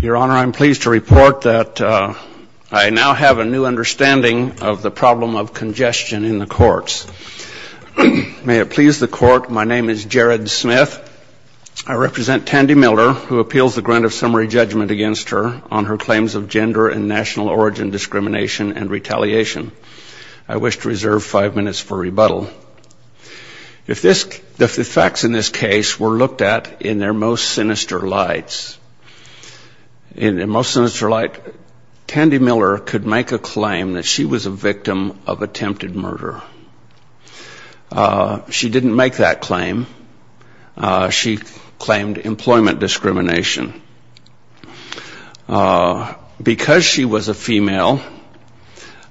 Your Honor, I am pleased to report that I now have a new understanding of the problem of congestion in the courts. May it please the Court, my name is Jared Smith. I represent Tandy Miller, who appeals the grant of summary judgment against her on her claims of gender and national origin discrimination and retaliation. I wish to reserve five minutes for rebuttal. If the facts in this case were looked at in their most sinister lights, in their most sinister light, Tandy Miller could make a claim that she was a victim of attempted murder. She didn't make that claim. She claimed employment discrimination. Because she was a female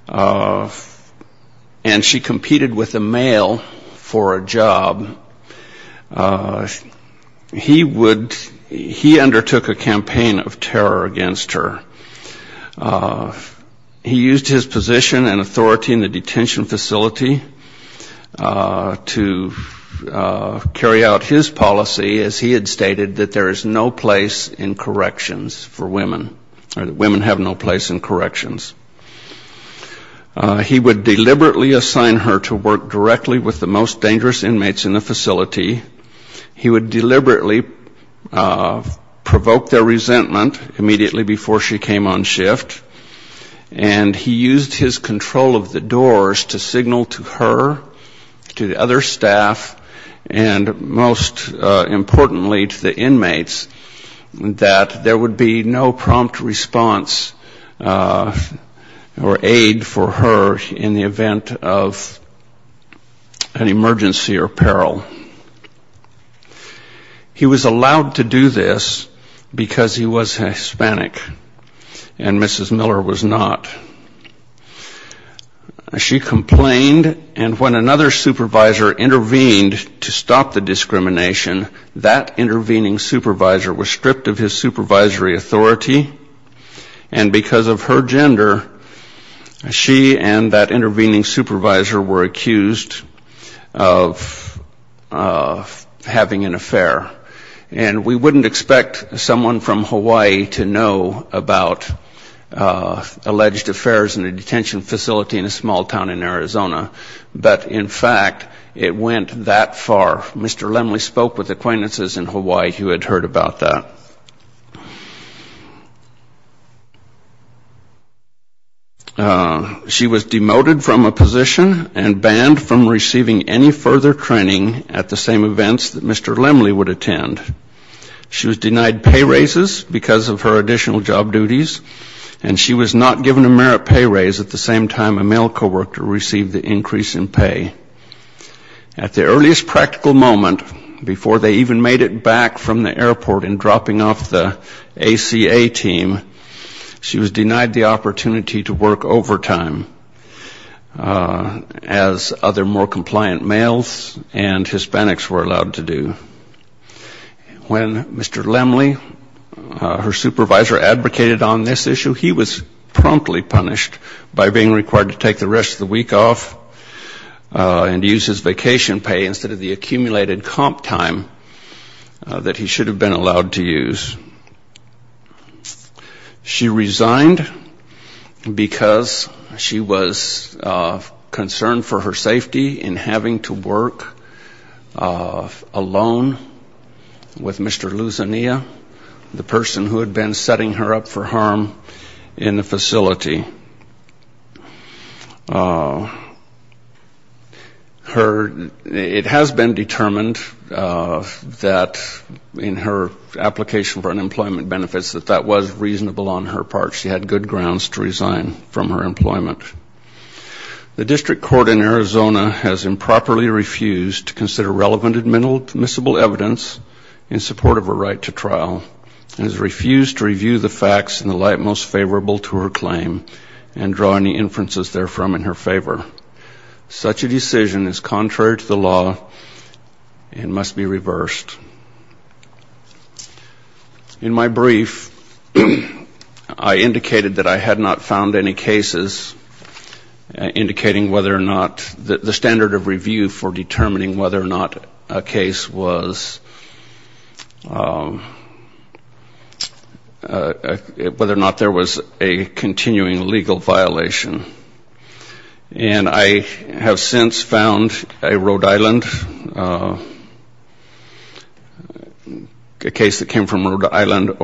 and she competed with a male for a job, he would, he undertook a campaign of terror against her. He used his position and authority in the detention facility to carry out his policy as he had stated, that there is no place in corrections for women, or that women have no place in corrections. He would deliberately assign her to work directly with the most dangerous inmates in the facility. He would deliberately provoke their resentment immediately before she came on shift. And he used his control of the doors to signal to her, to or aid for her in the event of an emergency or peril. He was allowed to do this because he was Hispanic and Mrs. Miller was not. She complained and when another supervisor intervened to stop the discrimination, that intervening supervisor was stripped of his supervisory authority. And because of her gender, she and that intervening supervisor were accused of having an affair. And we wouldn't expect someone from Hawaii to know about alleged affairs in a detention facility in a small town in Arizona. But in fact, it went that way. She was demoted from a position and banned from receiving any further training at the same events that Mr. Lemley would attend. She was denied pay raises because of her additional job duties. And she was not given a merit pay raise at the same time a male coworker received the increase in pay. At the earliest practical moment, before they even made it from the airport and dropping off the ACA team, she was denied the opportunity to work overtime as other more compliant males and Hispanics were allowed to do. When Mr. Lemley, her supervisor, advocated on this issue, he was promptly punished by being required to take the rest of the week off and use his vacation pay instead of the accumulated comp time that he should have been allowed to use. She resigned because she was concerned for her safety in having to work alone with Mr. Luzania, the person who had been setting her up for harm in the facility. It has been determined that in her application for unemployment benefits that that was reasonable on her part. She had good grounds to resign from her employment. The district court in Arizona has improperly refused to consider relevant admissible evidence in support of her right to trial and has refused to review the facts in the light most favorable to her claim and draw any inferences therefrom in her favor. Such a decision is contrary to the law and must be reversed. In my brief, I indicated that I had not found any cases indicating whether or not the standard of review for determining whether or not a case was, whether or not there was a continuing legal violation. And I have since found a Rhode Island, a case that came from Rhode Island, that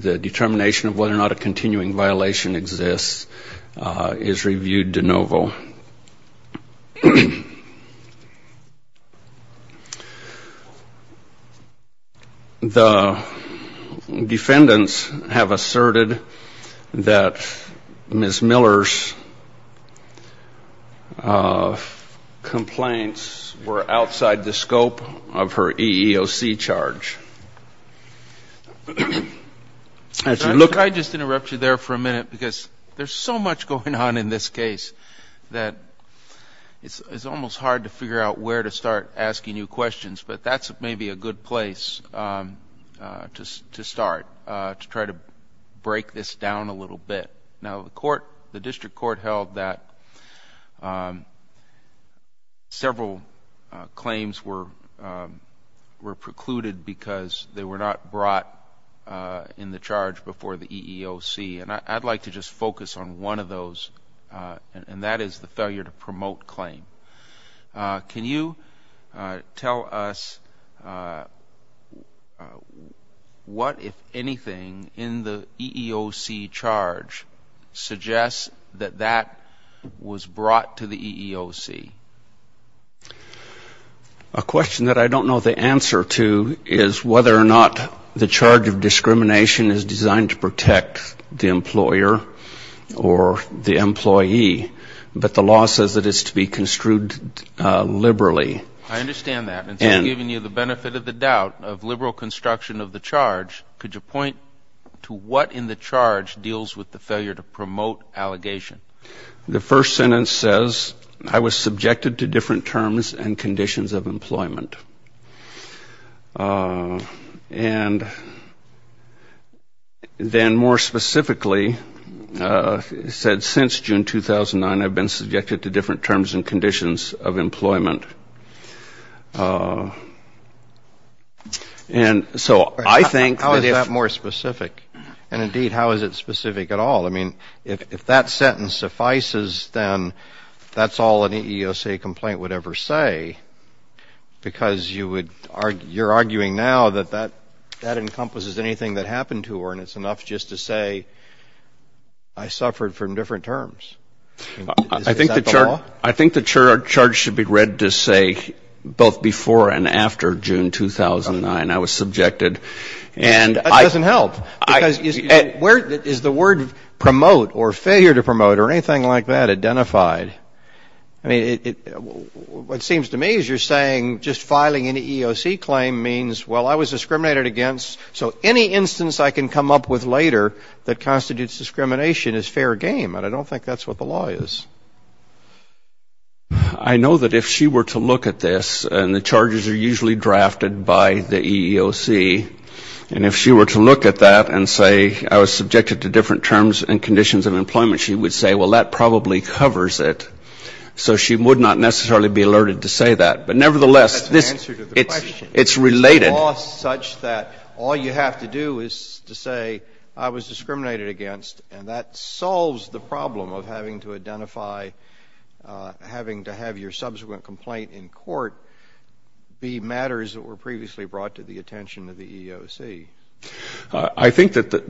the determination of whether or not a continuing violation exists is reviewed de novo. The defendants have asserted that Ms. Miller's complaints were outside the scope of her EEOC charge. I just interrupt you there for a minute because there's so much going on in this case that it's almost hard to figure out where to start asking you questions, but that's maybe a good place to start, to try to break this down a little bit. Now the court, the district court, also claims were precluded because they were not brought in the charge before the EEOC, and I'd like to just focus on one of those, and that is the failure to promote claim. Can you tell us what, if anything, in the EEOC charge suggests that that was brought to the EEOC? A question that I don't know the answer to is whether or not the charge of discrimination is designed to protect the employer or the employee, but the law says that it's to be construed liberally. I understand that. And so giving you the benefit of the doubt of liberal construction of the charge, could you point to what in the charge deals with the failure to promote allegation? The first sentence says, I was subjected to different terms and conditions of employment. And then more specifically, it said, since June 2009, I've been subjected to different terms and conditions of employment. And so I think that if How is that more specific? And indeed, how is it specific at all? I mean, if that sentence suffices, then that's all an EEOC complaint would ever say, because you're arguing now that that encompasses anything that happened to her, and it's enough just to say, I suffered from different terms. Is that the law? I think the charge should be read to say, both before and after June 2009, I was subjected. That doesn't help, because is the word promote or failure to promote or anything like that identified? I mean, what seems to me is you're saying just filing an EEOC claim means, well, I was discriminated against, so any instance I can come up with later that constitutes discrimination is fair game. And I don't think that's what the law is. I know that if she were to look at this, and the charges are usually drafted by the EEOC, and if she were to look at that and say, I was subjected to different terms and conditions of employment, she would say, well, that probably covers it. So she would not necessarily be alerted to say that. But nevertheless, this That's an answer to the question. It's related. It's a law such that all you have to do is to say, I was discriminated against, and that by having to have your subsequent complaint in court be matters that were previously brought to the attention of the EEOC. I think that the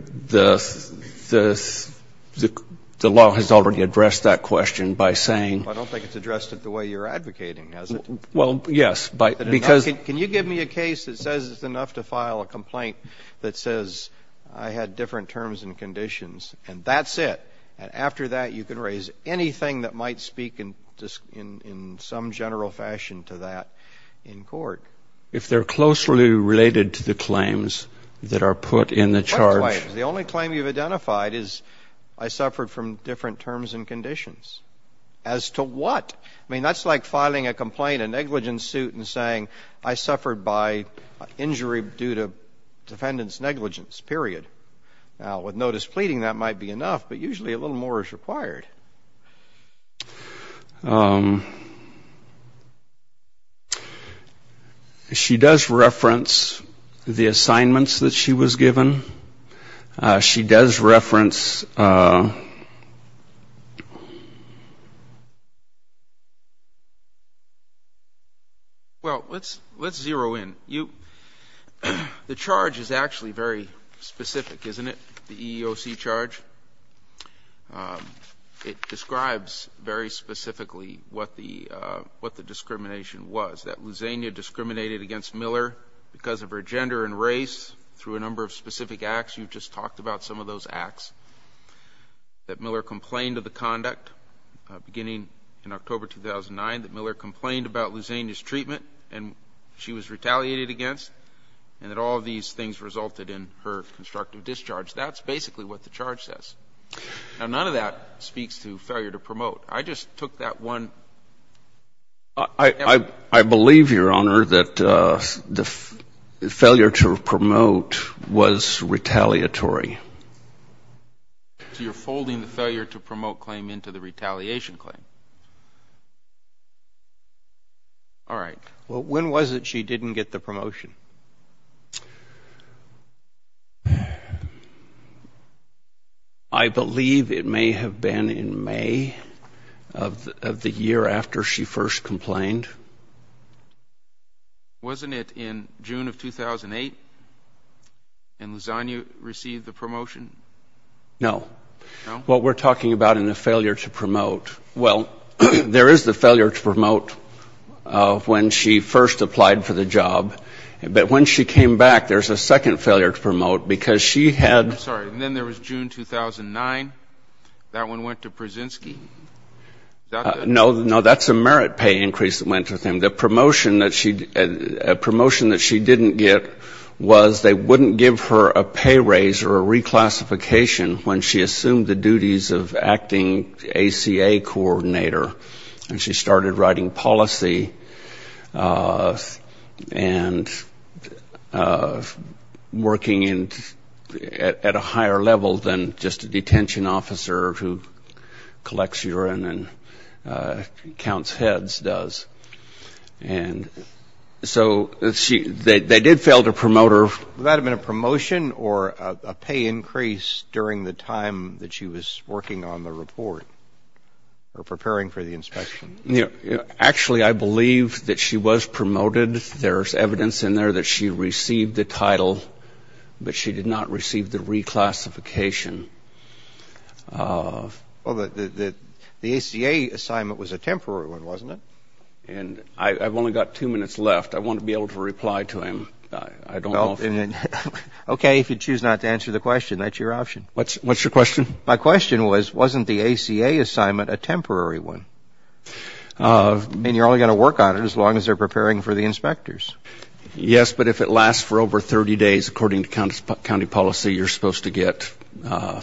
law has already addressed that question by saying Well, I don't think it's addressed it the way you're advocating, has it? Well, yes, because Can you give me a case that says it's enough to file a complaint that says, I had different terms and conditions, and that's it? And after that, you can raise anything that might speak in some general fashion to that in court? If they're closely related to the claims that are put in the charge The only claim you've identified is, I suffered from different terms and conditions. As to what? I mean, that's like filing a complaint, a negligence suit, and saying, I suffered by injury due to defendant's negligence, period. With no displeasing, that might be enough, but usually a little more is required. She does reference the assignments that she was given. She does reference Well, let's zero in. The charge is actually very specific, isn't it, the EEOC charge? It describes very specifically what the discrimination was, that Luzania discriminated against Miller because of her gender and race, through a number of specific acts. You've just talked about some of those acts, that Miller complained of the conduct, beginning in October 2009, that Miller complained about Luzania's treatment, and she was retaliated against, and that all of these things resulted in her constructive discharge. That's basically what the charge says. Now, none of that speaks to failure to promote. I just took that one I believe, Your Honor, that the failure to promote was retaliatory. So you're folding the failure to promote claim into the retaliation claim. All right. When was it she didn't get the promotion? I believe it may have been in May of the year after she first complained. Wasn't it in June of 2008 when Luzania received the promotion? No. What we're talking about in the failure to promote, well, there is the failure to promote when she first applied for the job, but when she came back, there's a second failure to promote because she had I'm sorry, and then there was June 2009. That one went to Pruszynski? No, that's a merit pay increase that went with him. The promotion that she didn't get was they wouldn't give her a pay raise or a reclassification when she assumed the duties of acting ACA coordinator, and she started writing policy and working at a higher level than just a detention officer who collects urine and counts heads does. And so they did fail to promote her. Would that have been a promotion or a pay increase during the time that she was working on the report or preparing for the inspection? Actually I believe that she was promoted. There's evidence in there that she received the title, but she did not receive the reclassification. Well, the ACA assignment was a temporary one, wasn't it? I've only got two minutes left. I want to be able to reply to him. I don't know if... Okay, if you choose not to answer the question, that's your option. What's your question? My question was, wasn't the ACA assignment a temporary one? I mean, you're only going to work on it as long as they're preparing for the inspectors. Yes, but if it lasts for over 30 days, according to county policy, you're supposed to get a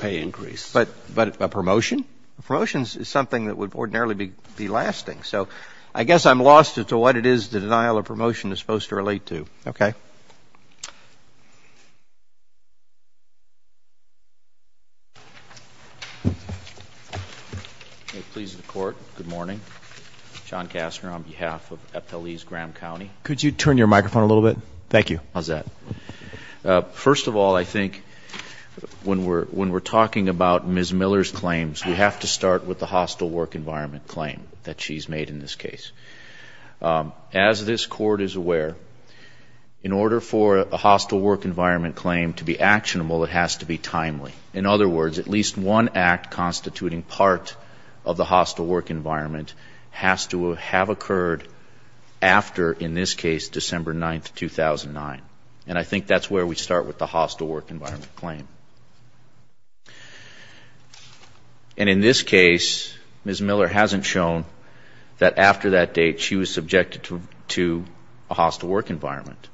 pay increase. But a promotion? Promotions is something that would ordinarily be lasting. So I guess I'm lost as to what it is the denial of promotion is supposed to relate to. Okay. May it please the court, good morning. John Kastner on behalf of Epple East Graham County. Could you turn your microphone a little bit? Thank you. How's that? First of all, I think when we're talking about Ms. Miller's claims, we have to start with the hostile work environment claim that she's made in this case. As this court is aware, in order for a hostile work environment claim to be actionable, it has to be timely. In other words, at least one act constituting part of the hostile work environment has to have occurred after, in this case, December 9th, 2009. And I think that's where we start with the hostile work environment claim. And in this case, Ms. Miller hasn't shown that after that date, she was subjected to a hostile work environment.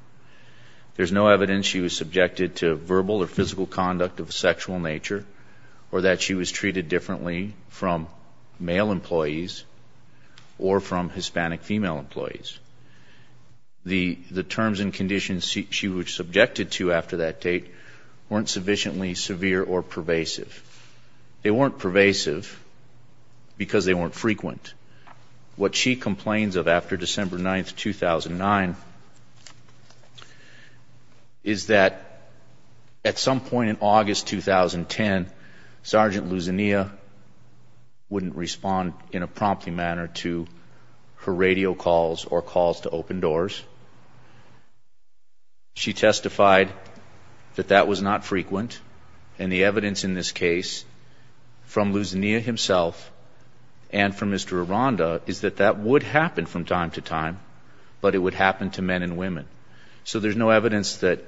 There's no evidence she was subjected to verbal or physical conduct of a sexual nature or that she was treated differently from male employees or from Hispanic female employees. The terms and conditions she was subjected to after that date weren't sufficiently severe or pervasive. They weren't pervasive because they weren't frequent. What she complains of after December 9th, 2009 is that at some point in August 2010, Sergeant Luzania wouldn't respond in a promptly manner to her radio calls or calls to open doors. She testified that that was not frequent. And the evidence in this case from Luzania himself and from Mr. Aranda is that that would happen from time to time, but it would happen to men and women. So there's no evidence that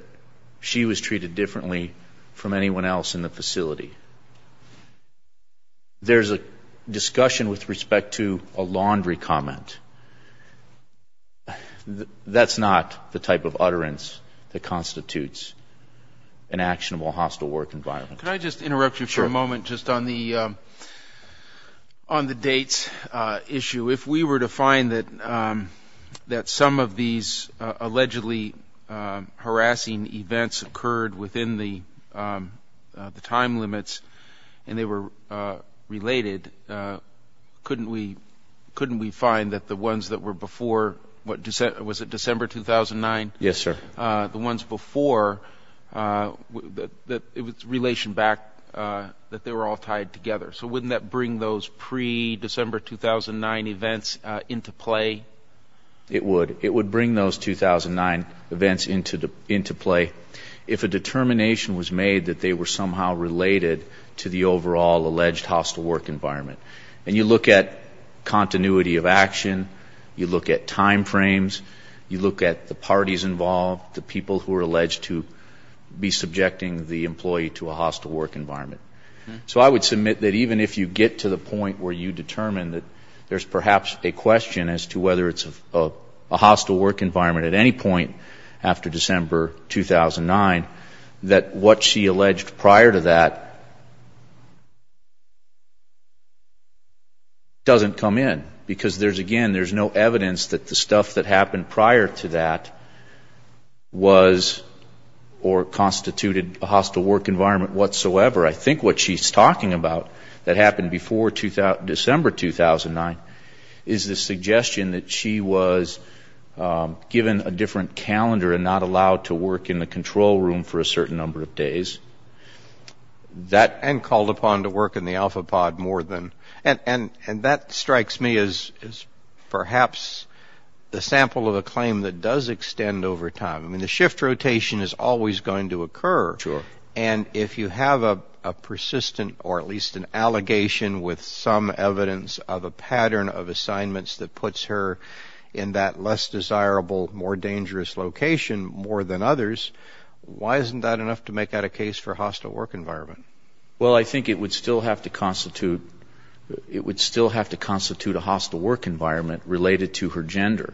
she was treated differently from anyone else in the facility. There's a discussion with respect to a laundry comment. That's not the type of utterance that constitutes an actionable hostile work environment. Can I just interrupt you for a moment just on the dates issue? If we were to find that some of these allegedly harassing events occurred within the time limits and they were related, couldn't we find that the ones that were before, was it December 2009? Yes, sir. The ones before, it was relation back that they were all tied together. So wouldn't that bring those pre-December 2009 events into play? It would. It would bring those 2009 events into play if a determination was made that they were somehow related to the overall alleged hostile work environment. And you look at the people who are alleged to be subjecting the employee to a hostile work environment. So I would submit that even if you get to the point where you determine that there's perhaps a question as to whether it's a hostile work environment at any point after December 2009, that what she alleged prior to that doesn't come in. Because there's, again, there's no evidence that the stuff that happened prior to that was or constituted a hostile work environment whatsoever. I think what she's talking about that happened before December 2009 is the suggestion that she was given a different calendar and not allowed to work in the control room for a certain number of days. That, and called upon to work in the alpha pod more than. And that strikes me as perhaps the sample of a claim that does extend over time. I mean, the shift rotation is always going to occur. And if you have a persistent or at least an allegation with some evidence of a pattern of assignments that puts her in that less desirable, more dangerous location more than others, why isn't that enough to make that a case for a hostile work environment? Well, I think it would still have to constitute, it would still have to constitute a hostile work environment related to her gender.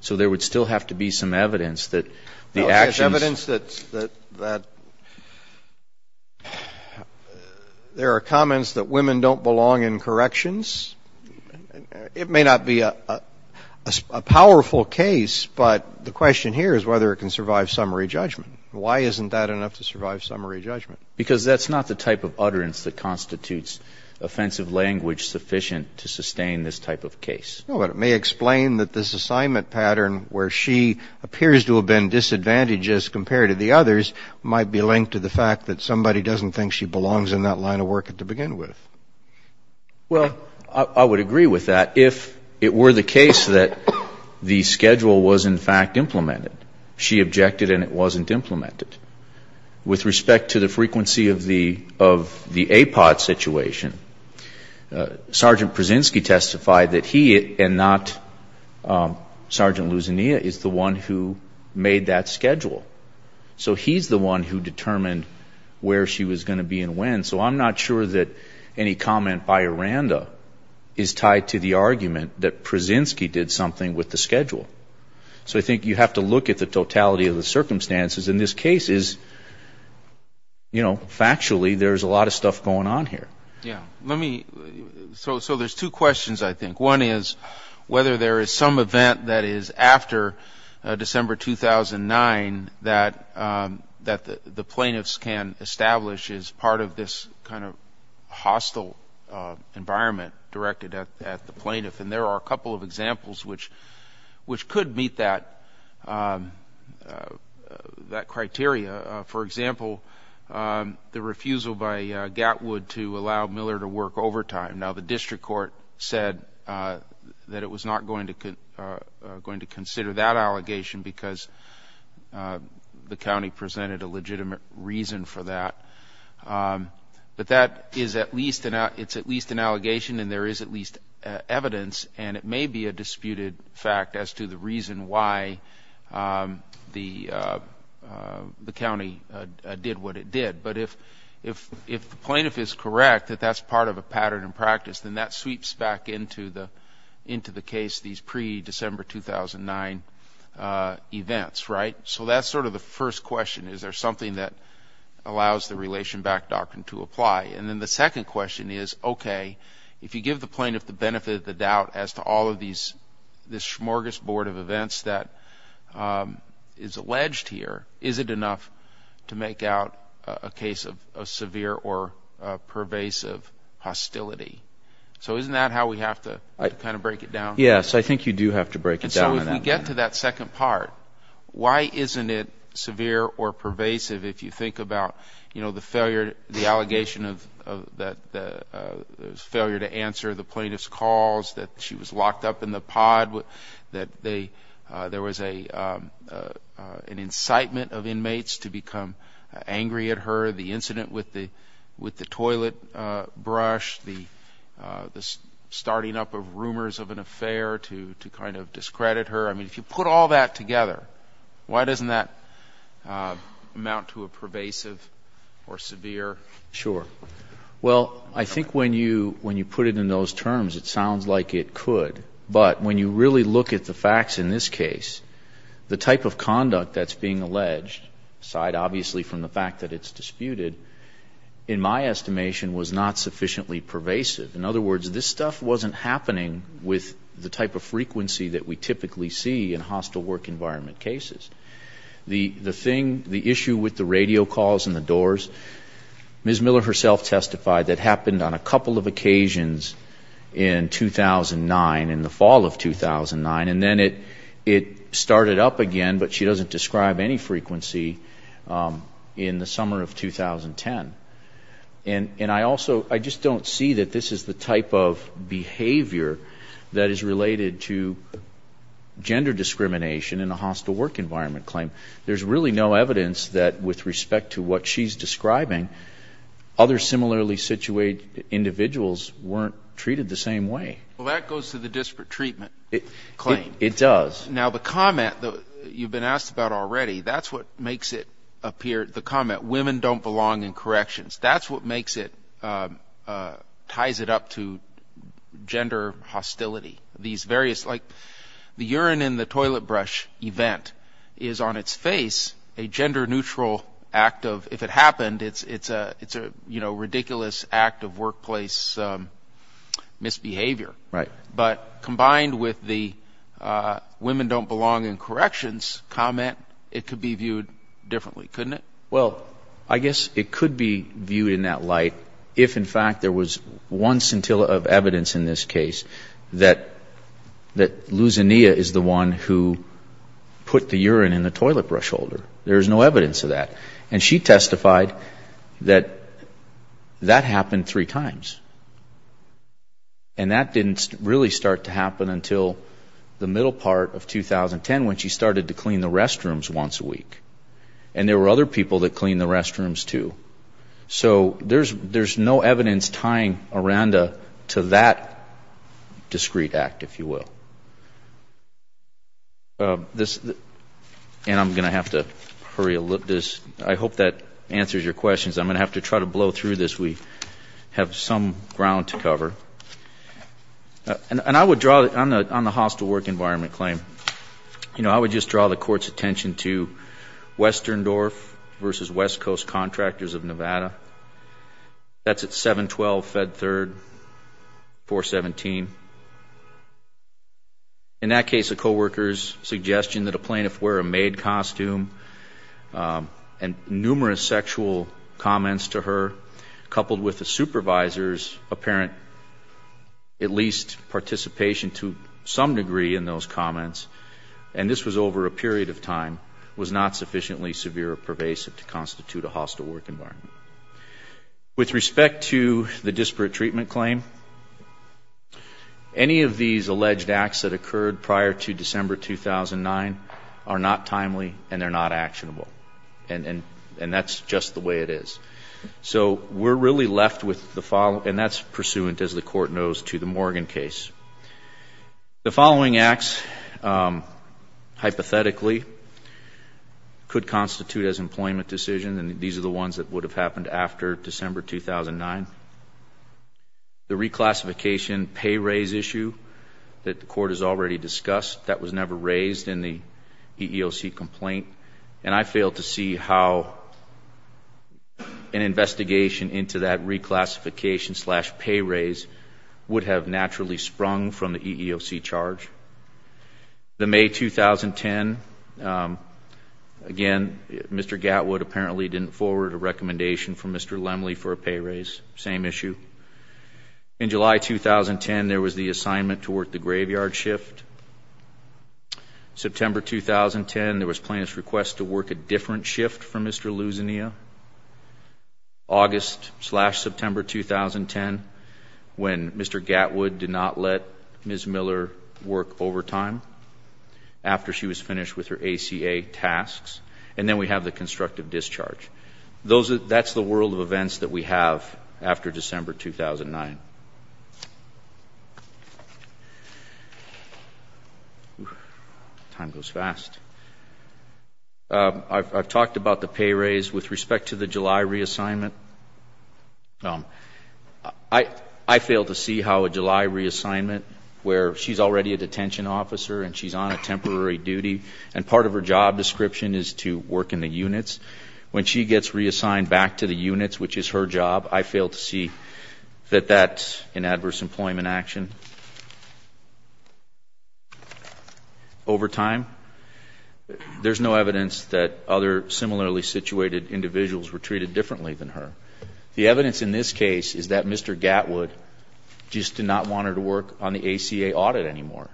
So there would still have to be some evidence that the actions. There's evidence that there are comments that women don't belong in corrections. It may not be a powerful case, but the question here is whether it can survive summary judgment. Why isn't that enough to survive summary judgment? Because that's not the type of utterance that constitutes offensive language sufficient to sustain this type of case. No, but it may explain that this assignment pattern where she appears to have been disadvantaged as compared to the others might be linked to the fact that somebody doesn't think she belongs in that line of work to begin with. Well, I would agree with that if it were the case that the schedule was in fact implemented. She objected and it wasn't implemented. With respect to the frequency of the APOD situation, Sergeant Pruszynski testified that he and not Sergeant Luzania is the one who made that schedule. So he's the one who determined where she was going to be and when. So I'm not sure that any comment by Aranda is tied to the argument that Pruszynski did something with the schedule. So I think you have to look at the totality of the circumstances. In this case, factually, there's a lot of stuff going on here. So there's two questions, I think. One is whether there is some event that is after December 2009 that the plaintiffs can establish as part of this kind of process. There's a hostile environment directed at the plaintiff and there are a couple of examples which could meet that criteria. For example, the refusal by Gatwood to allow Miller to work overtime. Now the district court said that it was not going to consider that allegation because the county presented a legitimate reason for that. But that is at least an allegation and there is at least evidence and it may be a disputed fact as to the reason why the county did what it did. But if the plaintiff is correct that that's part of a pattern in practice, then that sweeps back into the case, these pre-December 2009 events, right? So that's sort of the first question. Is there something that allows the relation back doctrine to apply? And then the second question is, okay, if you give the plaintiff the benefit of the doubt as to all of these smorgasbord of events that is alleged here, is it enough to make out a case of severe or pervasive hostility? So isn't that how we have to kind of break it down? So if we get to that second part, why isn't it severe or pervasive if you think about the failure, the allegation of the failure to answer the plaintiff's calls, that she was locked up in the pod, that there was an incitement of inmates to become angry at her, the incident with the toilet brush, the starting up of rumors of an affair to kind of discredit her? I mean, if you put all that together, why doesn't that amount to a pervasive or severe? Sure. Well, I think when you put it in those terms, it sounds like it could. But when you really look at the facts in this case, the type of conduct that's being alleged, aside obviously from the fact that it's disputed, in my estimation was not sufficiently pervasive. In other words, this stuff wasn't happening with the type of frequency that we typically see in hostile work environment cases. The thing, the issue with the radio calls and the doors, Ms. Miller herself testified that happened on a couple of occasions in 2009, in the fall of 2009, and then it started up again, but she doesn't describe any frequency in the summer of 2010. And I also, I just don't see that this is the type of behavior that is related to gender discrimination in a hostile work environment claim. There's really no evidence that with respect to what she's describing, other similarly situated individuals weren't treated the same way. Well, that goes to the disparate treatment claim. It does. Now the comment, you've been asked about already, that's what makes it appear, the comment, women don't belong in corrections. That's what makes it, ties it up to gender hostility. These various, like the urine in the toilet brush event is on its face a gender neutral act of, if it happened, it's a ridiculous act of workplace misbehavior. But combined with the women don't belong in corrections comment, it could be viewed differently, couldn't it? Well, I guess it could be viewed in that light if in fact there was one scintilla of evidence in this case that Lusania is the one who put the urine in the toilet brush holder. There is no evidence of that. And she testified that that happened three times. And that didn't really start to happen until the middle part of 2010 when she started to clean the restrooms once a week. And there were other people that cleaned the restrooms too. So there's no evidence tying Aranda to that discreet act, if you will. And I'm going to have to hurry this. I hope that answers your questions. I'm going to have to try to blow through this. We have some ground to cover. And I would draw, on the hostile work environment claim, you know, I would just draw the court's attention to Western Dorf versus West Coast Contractors of Nevada. That's at 712 Fed Third 417. In that case, a coworker's suggestion that a plaintiff wear a maid costume and numerous sexual comments to her, coupled with the supervisor's apparent, at least, participation to some degree in those comments, and this was over a period of time, was not sufficiently severe or pervasive to constitute a hostile work environment. With respect to the disparate treatment claim, any of these alleged acts that occurred prior to December 2009 are not timely and they're not actionable. And that's just the way it is. So we're really left with the following, and that's pursuant, as the Court knows, to the Morgan case. The following acts, hypothetically, could constitute as employment decisions, and these are the ones that would have happened after December 2009. The reclassification pay raise issue that the Court has already discussed, that was never raised in the EEOC complaint, and I failed to see how an investigation into that reclassification slash pay raise would have naturally sprung from the EEOC charge. The May 2010, again, Mr. Gatwood apparently didn't forward a recommendation from Mr. Lemley for a pay raise, same issue. In July 2010, there was the assignment to work the graveyard shift. September 2010, there was plaintiff's request to work a different shift for Mr. Luzania. August slash September 2010, when Mr. Gatwood did not let Ms. Miller work overtime after she was finished with her ACA tasks, and then we have the constructive discharge. That's the world of events that we have after December 2009. Time goes fast. I've talked about the pay raise with respect to the July reassignment. I failed to see how a July reassignment, where she's already a detention officer and she's on a temporary duty, and part of her job description is to work in the units. When she gets reassigned back to the units, which is her job, I failed to see that that's an adverse employment action. Overtime, there's no evidence that other similarly situated individuals were treated differently than her. The evidence in this case is that Mr. Gatwood just did not want her to work on the ACA audit anymore.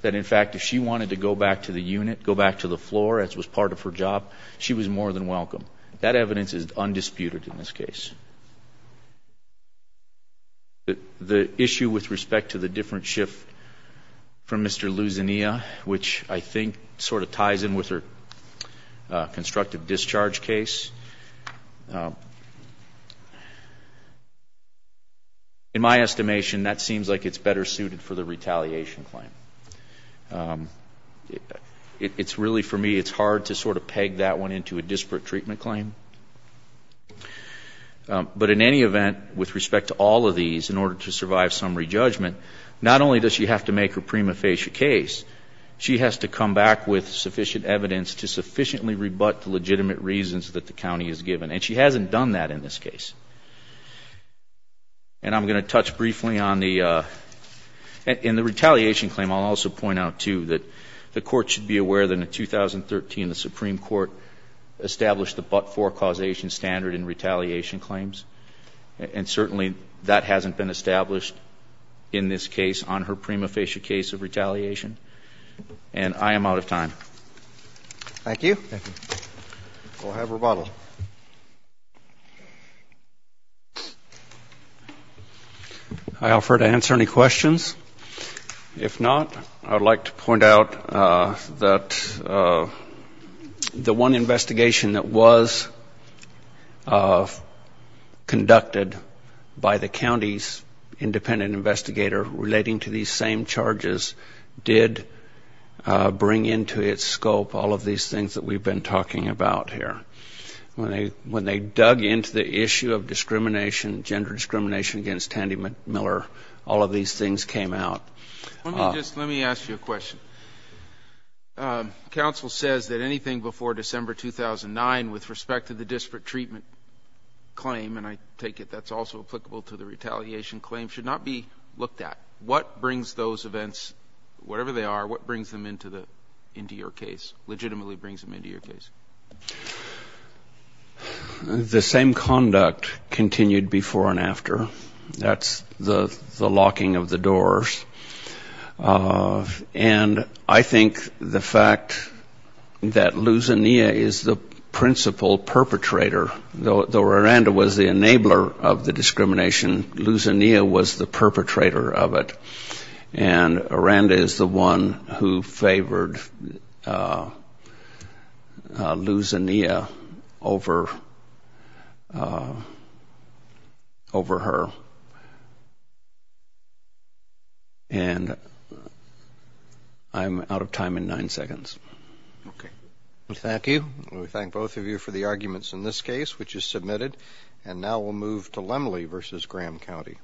That, in fact, if she wanted to go back to the unit, go back to the floor, as was part of her job, she was more than welcome. That evidence is undisputed in this case. The issue with respect to the different shift from Mr. Luzania, which I think sort of ties in with her constructive discharge case, in my estimation, that seems like it's better suited for the retaliation claim. It's really, for me, it's hard to sort of peg that one into a disparate treatment claim. But in any event, with respect to all of these, in order to survive summary judgment, not only does she have to make her prima facie case, she has to come back with sufficient evidence to sufficiently rebut the legitimate reasons that the county has given. And she hasn't done that in this case. And I'm going to touch briefly on the — in the retaliation claim, I'll also point out, too, that the Court should be aware that in 2013, the Supreme Court established the but-for causation standard in retaliation claims. And certainly, that hasn't been established in this case on her prima facie case of retaliation. And I am out of time. Thank you. Thank you. We'll have rebuttal. I offer to answer any questions. If not, I would like to point out that the one investigation that was conducted by the county's independent investigator relating to these same charges did bring into its scope all of these things that we've been talking about here. When they dug into the issue of discrimination, gender discrimination against Tandi Miller, all of these things came out. Let me just — let me ask you a question. Council says that anything before December 2009, with respect to the disparate treatment claim — and I take it that's also applicable to the retaliation claim — should not be looked at. What brings those events, whatever they are, what brings them into the — into your case, legitimately brings them into your case? The same conduct continued before and after. That's the locking of the doors. And I think the fact that Luz Inia is the principal perpetrator, though Aranda was the enabler of the discrimination — Luz Inia was the perpetrator of it. And Aranda is the one who favored Luz Inia over her. And I'm out of time in nine seconds. Okay. Thank you. We thank both of you for the arguments in this case, which is submitted. And now we'll move to Lemley v. Graham County.